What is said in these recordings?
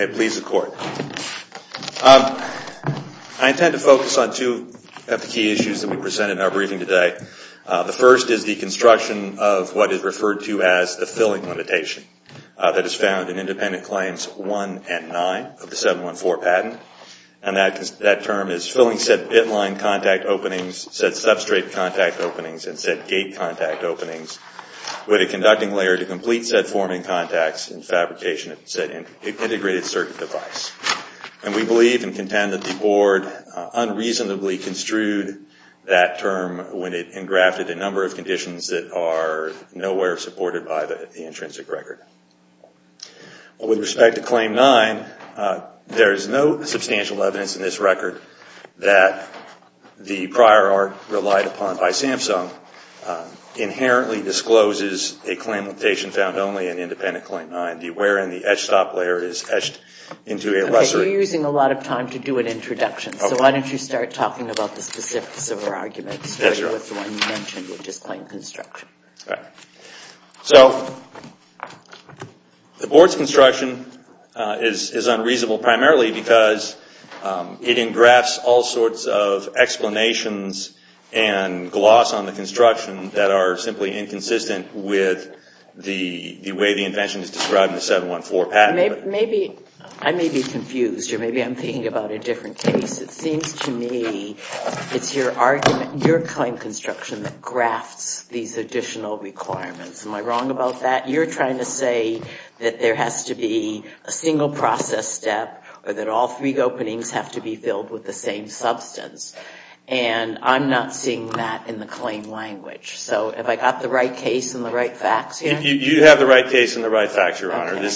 has the court. I intend to focus on two of the key issues that we present in our briefing today. The first is the construction of what is referred to as the filling limitation that is found in Independent Claims 1 and 9 of the 714 patent. And that term is filling said bit line contact openings, said substrate contact openings, and said gate contact openings with a conducting layer to complete said forming contacts and fabrication of said integrated circuit device. And we believe and contend that the Board unreasonably construed that term when it engrafted a number of conditions that are nowhere supported by the intrinsic record. With respect to Claim 9, there is no substantial evidence in this record that the prior art relied upon by Samsung inherently discloses a claim limitation found only in Independent Claim 9, where in the etched top layer is etched into a lesser... Okay, you're using a lot of time to do an introduction, so why don't you start talking about the specifics of our argument, starting with the one you mentioned, which is claim construction. Right. So, the Board's construction is unreasonable primarily because it engrafts all sorts of conditions and gloss on the construction that are simply inconsistent with the way the invention is described in the 714 patent. I may be confused, or maybe I'm thinking about a different case. It seems to me it's your argument, your claim construction that grafts these additional requirements. Am I wrong about that? You're trying to say that there has to be a single process step, or that all three openings have to be filled with the same substance, and I'm not seeing that in the claim language. So, have I got the right case and the right facts here? You have the right case and the right facts, Your Honor. We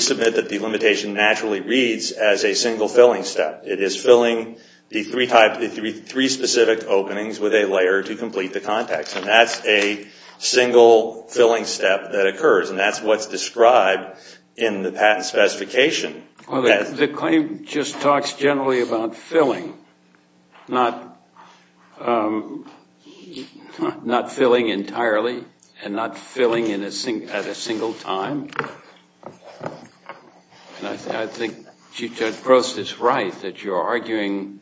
submit that the limitation naturally reads as a single filling step. It is filling the three specific openings with a layer to complete the context, and that's a single filling step that occurs, and that's what's described in the patent specification. The claim just talks generally about filling, not filling entirely and not filling at a single time. I think Chief Judge Gross is right that you're arguing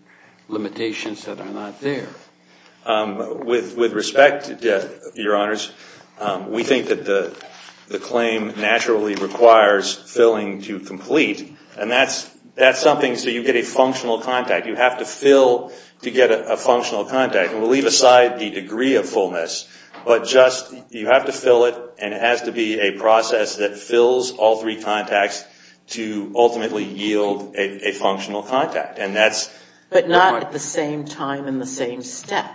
limitations that are not there. With respect, Your Honors, we think that the claim naturally requires filling to complete, and that's something so you get a functional contact. You have to fill to get a functional contact, and we'll leave aside the degree of fullness, but just you have to fill it, and it has to be a process that fills all three contacts to ultimately yield a functional contact, and that's But not at the same time and the same step.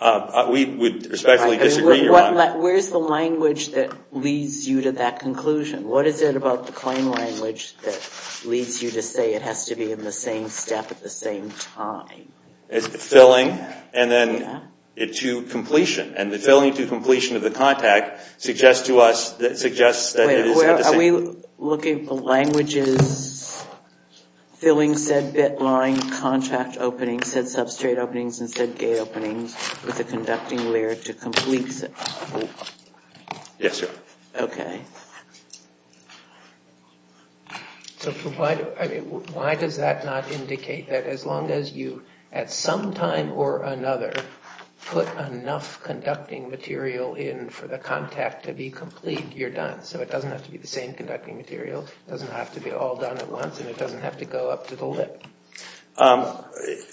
We would respectfully disagree, Your Honor. Where's the language that leads you to that conclusion? What is it about the claim language that leads you to say it has to be in the same step at the same time? It's filling and then to completion, and the filling to completion of the contact suggests to us that it is at the same Are you looking at the languages filling said bit line, contract opening, said substrate openings, and said gate openings with a conducting layer to complete? Yes, sir. Okay. So why does that not indicate that as long as you, at some time or another, put enough conducting material in for the contact to be complete, you're done? So it doesn't have to be the same conducting material. It doesn't have to be all done at once, and it doesn't have to go up to the lip.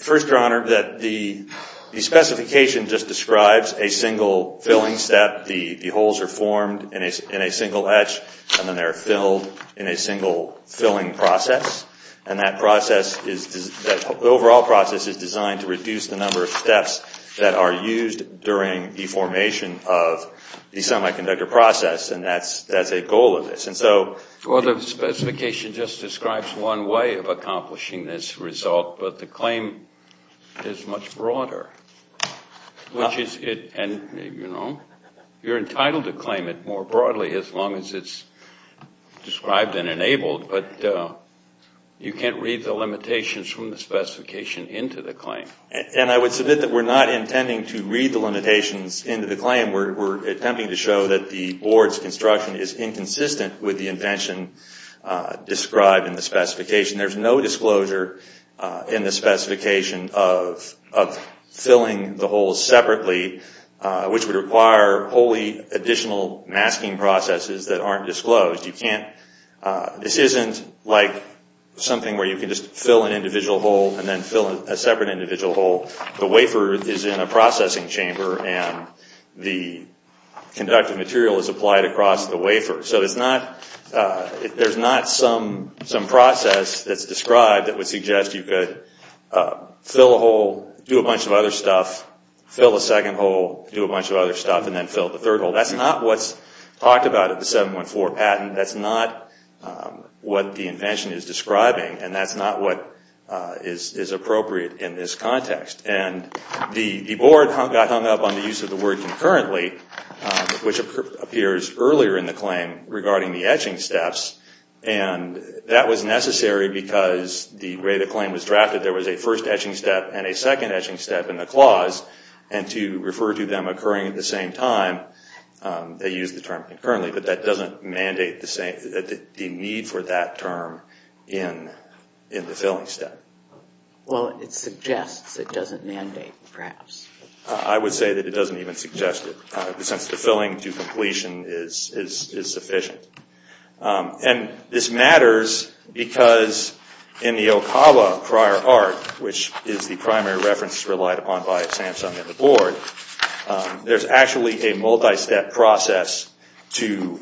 First, Your Honor, the specification just describes a single filling step. The holes are formed in a single etch, and then they're filled in a single filling process, and that process is, the overall process is designed to reduce the number of steps that are used during the formation of the semiconductor process, and that's a goal of this. And so Well, the specification just describes one way of accomplishing this result, but the claim is much broader, which is it, and you know, you're entitled to claim it more broadly as long as it's described and enabled, but you can't read the limitations from the specification into the claim. And I would submit that we're not intending to read the limitations into the claim. We're attempting to show that the Board's construction is inconsistent with the intention described in the specification. There's no disclosure in the specification of filling the holes separately, which would require wholly additional masking processes that aren't disclosed. You can't, this isn't like something where you can just fill an individual hole and then fill a separate individual hole. The wafer is in a processing chamber, and the conductive material is applied across the wafer. So it's not, there's not some process that's described that would suggest you could fill a hole, do a bunch of other stuff, fill a second hole, do a bunch of other stuff, and then fill the third hole. That's not what's talked about at the 714 patent. That's not what the invention is describing, and that's not what is appropriate. And the Board got hung up on the use of the word concurrently, which appears earlier in the claim regarding the etching steps. And that was necessary because the way the claim was drafted, there was a first etching step and a second etching step in the clause, and to refer to them occurring at the same time, they used the term concurrently. But that doesn't mandate the need for that term in the filling step. Well it suggests it doesn't mandate, perhaps. I would say that it doesn't even suggest it, since the filling to completion is sufficient. And this matters because in the Okawa prior art, which is the primary reference relied upon by Samsung and the Board, there's actually a multi-step process to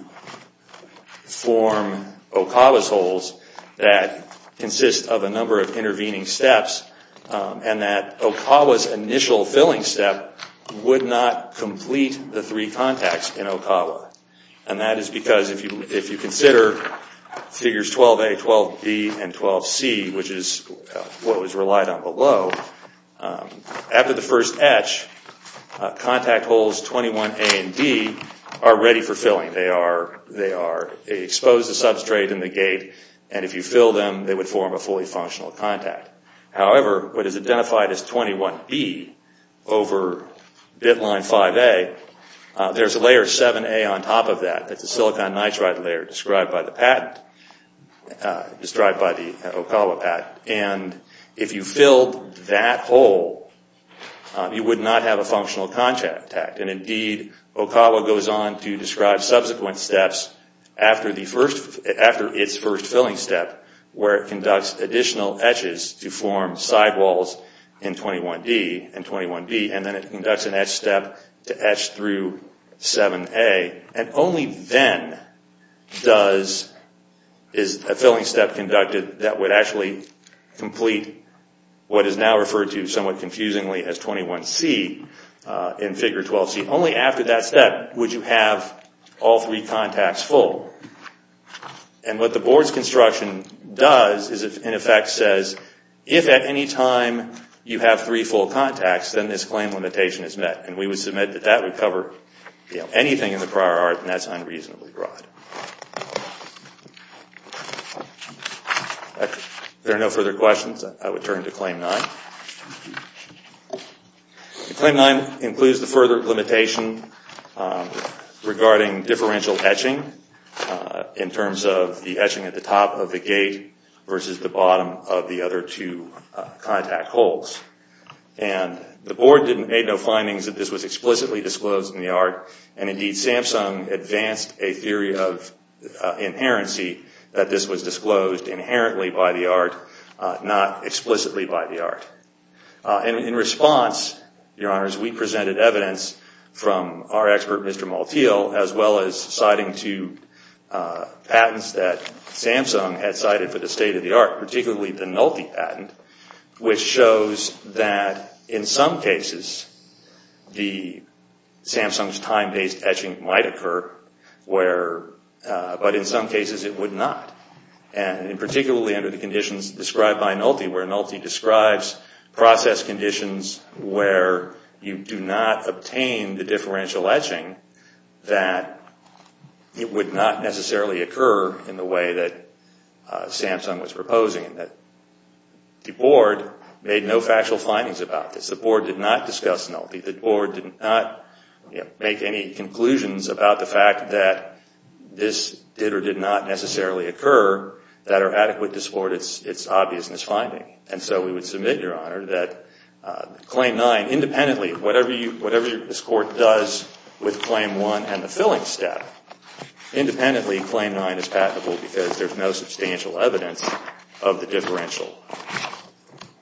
form Okawa's holes that consists of a number of intervening steps, and that Okawa's initial filling step would not complete the three contacts in Okawa. And that is because if you consider figures 12A, 12B, and 12C, which is what was relied on below, after the first etch, contact holes 21A and D are ready for filling. They are exposed to substrate in the gate, and if you fill them, they would form a fully functional contact. However, what is identified as 21B over bit line 5A, there's a layer 7A on top of that, that's a silicon nitride layer described by the patent, described by the Okawa patent, and if you filled that hole, you would not have a functional contact. And indeed, Okawa goes on to describe subsequent steps after the first, after its first filling step, where it conducts additional etches to form sidewalls in 21D and 21B, and then it conducts an etch step to etch through 7A, and only then does, is a filling step conducted that would actually complete what is now referred to somewhat confusingly as 21C in figure 12C. Only after that step would you have all three contacts full. And what the board's construction does is, in effect, says, if at any time you have three full contacts, then this claim limitation is met. And we would submit that that would cover anything in the prior art, and that's unreasonably broad. If there are no further questions, I would turn to Claim 9. Claim 9 includes the further limitation regarding differential etching in terms of the etching at the top of the gate versus the bottom of the other two contact holes. And the board made no findings that this was explicitly disclosed in the art, and indeed, Samsung advanced a theory of inherency that this was disclosed inherently by the art, not explicitly by the art. In response, Your Honors, we presented evidence from our expert, Mr. Maltiel, as well as citing two patents that Samsung had cited for the state of the art, particularly the Nulti patent, which shows that in some cases, Samsung's time-based etching might occur, but in some cases it would not. And particularly under the conditions described by Nulti, where Nulti describes process conditions where you do not obtain the differential etching, that it would not necessarily occur in the way that Samsung was proposing, that the board made no factual findings about this. The board did not discuss Nulti. The board did not make any conclusions about the fact that this did or did not necessarily occur that are adequate to support its obviousness finding. And so we would submit, Your Honor, that Claim 9 independently, whatever this Court does with Claim 1 and the filling step, independently Claim 9 is patentable because there's no substantial evidence of the differential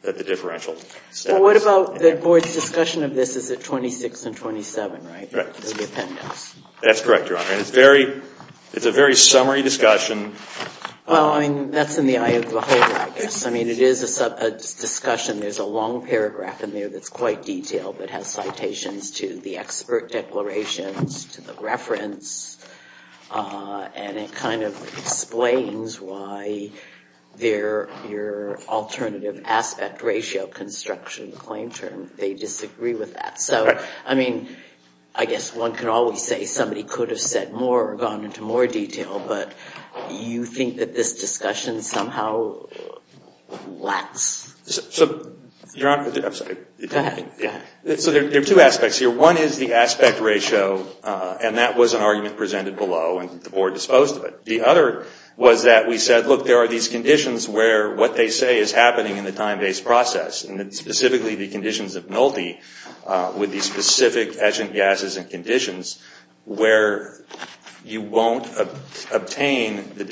that the differential step is inherent. Well, what about the board's discussion of this? Is it 26 and 27, right, of the appendix? That's correct, Your Honor. And it's a very summary discussion. Well, I mean, that's in the eye of the beholder, I guess. I mean, it is a discussion. There's a long paragraph in there that's quite detailed, that has citations to the expert declarations, to the reference, and it kind of explains why your alternative aspect ratio construction claim term, they disagree with that. So, I mean, I guess one can always say somebody could have said more or gone into more detail, but you think that this discussion somehow lacks... So, Your Honor, I'm sorry. Go ahead. So there are two aspects here. One is the aspect ratio, and that was an argument presented below and the board disposed of it. The other was that we said, look, there are these conditions where what they say is happening in the time-based process, and it's specifically the conditions of Nolte with these specific etchant gases and conditions where you won't obtain the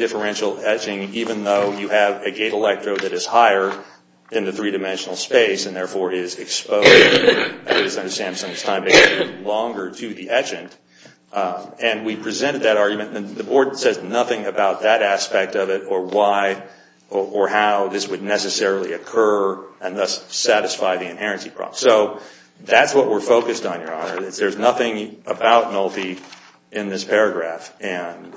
in the three-dimensional space and, therefore, is exposed, as I understand it, to the etchant. And we presented that argument, and the board says nothing about that aspect of it or why or how this would necessarily occur and thus satisfy the inherency problem. So that's what we're focused on, Your Honor. There's nothing about Nolte in this paragraph, and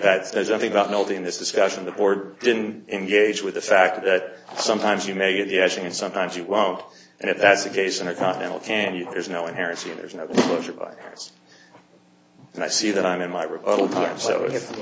there's nothing about Nolte in this discussion. The board didn't engage with the fact that sometimes you may get the etching and sometimes you won't, and if that's the case in a Continental can, there's no inherency and there's no exposure by inherency. And I see that I'm in my rebuttal here. Good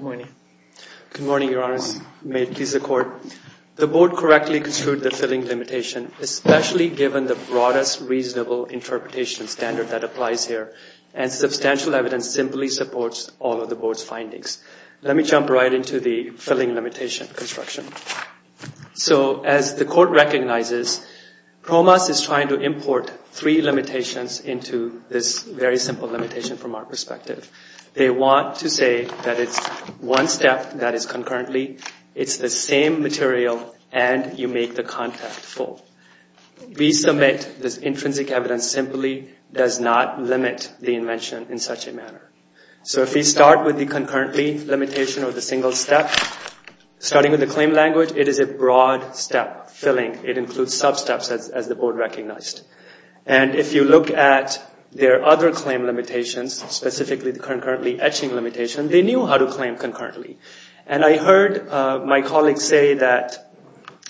morning. Good morning, Your Honors. May it please the Court. The board correctly construed the filling limitation, especially given the broadest reasonable interpretation standard that applies here, and substantial evidence simply supports all of the board's findings. Let me jump right into the filling limitation construction. So as the Court recognizes, PROMAS is trying to import three limitations into this very simple limitation from our perspective. They want to say that it's one step that is concurrently, it's the same material, and you make the contact full. We submit this intrinsic evidence simply does not limit the invention in such a manner. So if we start with the concurrently limitation or the single step, starting with the claim language, it is a broad step, filling. It includes sub-steps as the board recognized. And if you look at their other claim limitations, specifically the concurrently etching limitation, they knew how to claim concurrently. And I heard my colleagues say that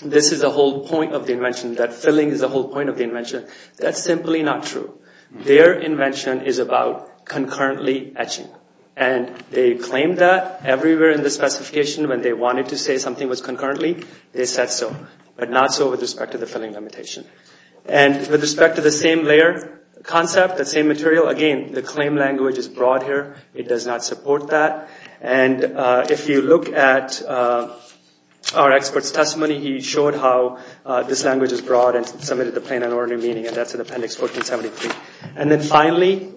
this is the whole point of the invention, that filling is the whole point of the invention. That's simply not true. Their invention is about concurrently etching. And they claimed that everywhere in the specification when they wanted to say something was concurrently, they said so. But not so with respect to the filling limitation. And with respect to the same layer concept, the same material, again, the claim language is broad here. It does not support that. And if you look at our expert's testimony, he showed how this language is broad and submitted the plain and ordinary meaning, and that's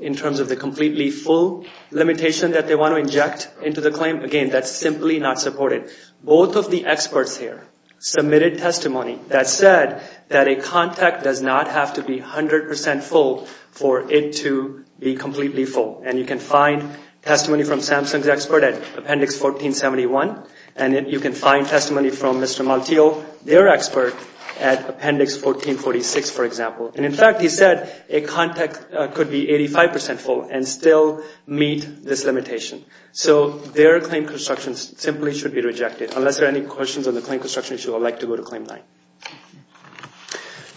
in terms of the completely full limitation that they want to inject into the claim. Again, that's simply not supported. Both of the experts here submitted testimony that said that a contact does not have to be 100% full for it to be completely full. And you can find testimony from Samsung's expert at Appendix 1471, and you can find testimony from Mr. Malteo, their expert, at Appendix 1446, for example. And in fact, he said a contact could be 85% full and still meet this limitation. So their claim construction simply should be rejected. Unless there are any questions on the claim construction issue, I would like to go to Claim 9.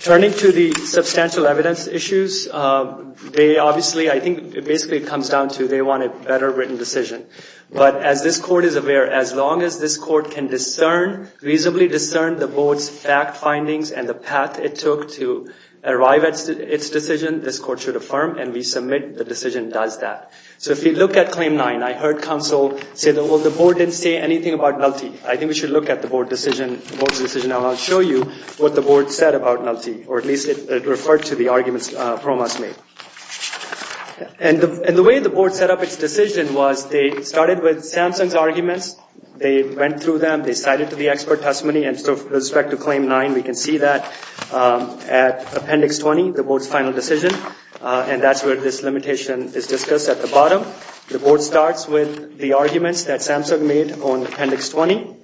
Turning to the substantial evidence issues, they obviously, I think it basically comes down to they want a better written decision. But as this Court is aware, as long as this Court can discern, reasonably discern the Board's fact findings and the path it took to arrive at its decision, this Court should affirm. And we submit the decision does that. So if you look at Claim 9, I heard counsel say that, well, the Board didn't say anything about Nulti. I think we should look at the Board's decision, and I'll show you what the Board said about Nulti, or at least it referred to the arguments PROMAS made. And the way the Board set up its decision was they started with Samsung's arguments. They went through them. They cited the expert testimony. And so with respect to Claim 9, we can see that at Appendix 20, the Board's final decision, and that's where this limitation is discussed at the bottom. The Board starts with the arguments that Samsung made on Appendix 20,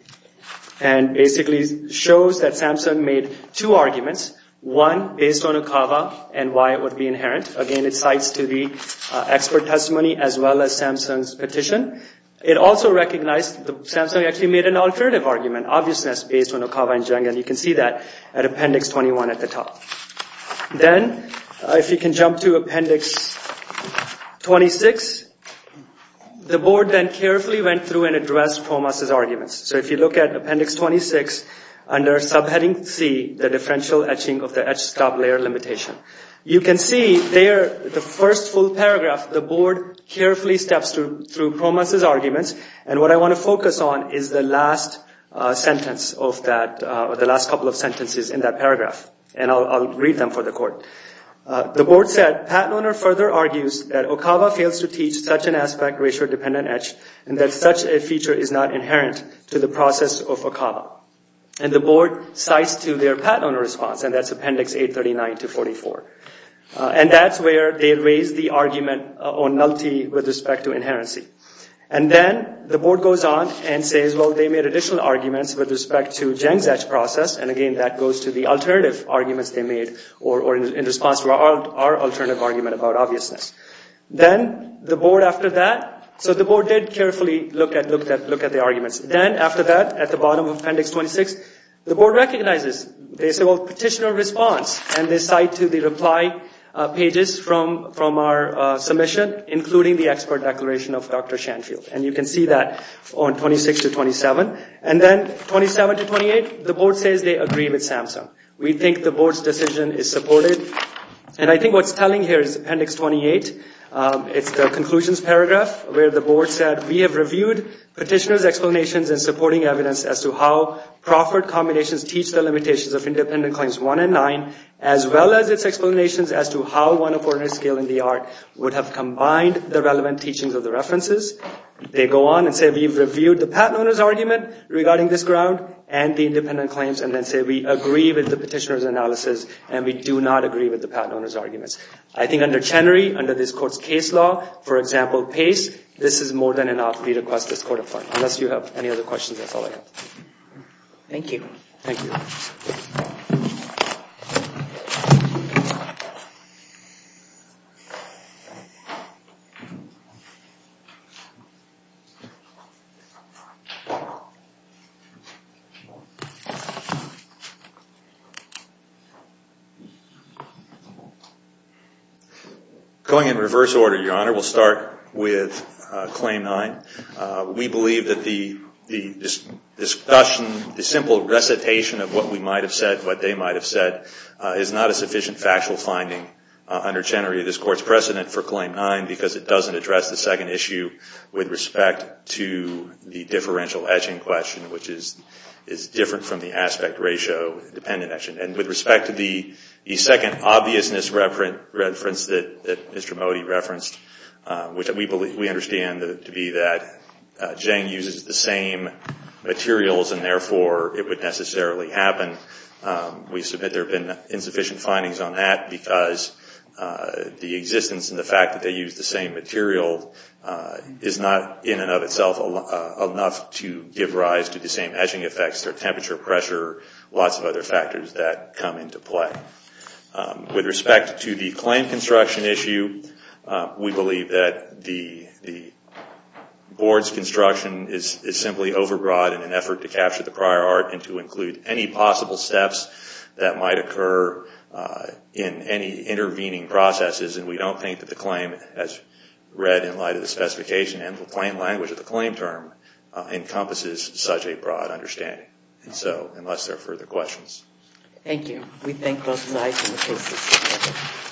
and basically shows that Samsung made two arguments, one based on Okava and why it would be inherent. Again, it cites to the expert testimony as well as Samsung's petition. It also recognized that Samsung actually made an alternative argument, obviousness, based on Okava and Zheng, and you can see that at Appendix 21 at the top. Then if you can jump to Appendix 26, the Board then carefully went through and addressed PROMAS' arguments. So if you look at Appendix 26, under subheading C, the differential etching of the etched stop layer limitation, you can see there, the first full paragraph, the Board carefully steps through PROMAS' arguments, and what I want to focus on is the last sentence of that, the last couple of sentences in that paragraph, and I'll read them for the Court. The Board said, Pat Loner further argues that Okava fails to teach such an aspect ratio dependent etch, and that such a feature is not inherent to the process of Okava. And the Board cites to their Pat Loner response, and that's Appendix 839 to 44. And that's where they raise the argument on nullity with respect to inherency. And then the Board goes on and says, well, they made additional arguments with respect to Geng's etch process, and again, that goes to the alternative arguments they made in response to our alternative argument about obviousness. Then the Board, after that, so the Board did carefully look at the arguments. Then after that, at the bottom of Appendix 26, the Board recognizes, they say, well, petitioner response, and they cite to the reply pages from our submission, including the expert declaration of Dr. Shanfield. And you can see that on 26 to 27. And then 27 to 28, the Board says they agree with SAMHSA. We think the Board's decision is supported. And I think what's telling here is Appendix 28, it's the conclusions paragraph, where the Board said, we have reviewed petitioner's explanations and supporting evidence as to how proffered combinations teach the limitations of independent claims 1 and 9, as well as its explanations as to how one of ordinary skill in the art would have combined the relevant teachings of the references. They go on and say, we've reviewed the patent owner's argument regarding this ground and the independent claims, and then say, we agree with the petitioner's analysis, and we do not agree with the patent owner's arguments. I think under Chenery, under this court's case law, for example, PACE, this is more than enough. We request this court of art. Unless you have any other questions, that's all I have. Thank you. Thank you. Going in reverse order, Your Honor, we'll start with Claim 9. We believe that the discussion, the simple recitation of what we might have said, what they might have said, is not a sufficient factual finding under Chenery. This Court's precedent for Claim 9 because it doesn't address the second issue with respect to the differential etching question, which is different from the aspect ratio dependent etching. And with respect to the second obviousness reference that Mr. Mody referenced, which we understand to be that Jeng uses the same materials, and therefore, it would necessarily happen. We submit there have been insufficient findings on that because the existence and the fact that they use the same material is not, in and of itself, enough to give rise to the same etching effects or temperature, pressure, lots of other factors that come into play. With respect to the claim construction issue, we believe that the Board's construction is simply overbroad in an effort to capture the prior art and to include any possible steps that might occur in any intervening processes. And we don't think that the claim, as read in light of the specification and the claim language of the claim term, encompasses such a broad understanding. So, unless there are further questions. Thank you. We thank both sides in the cases.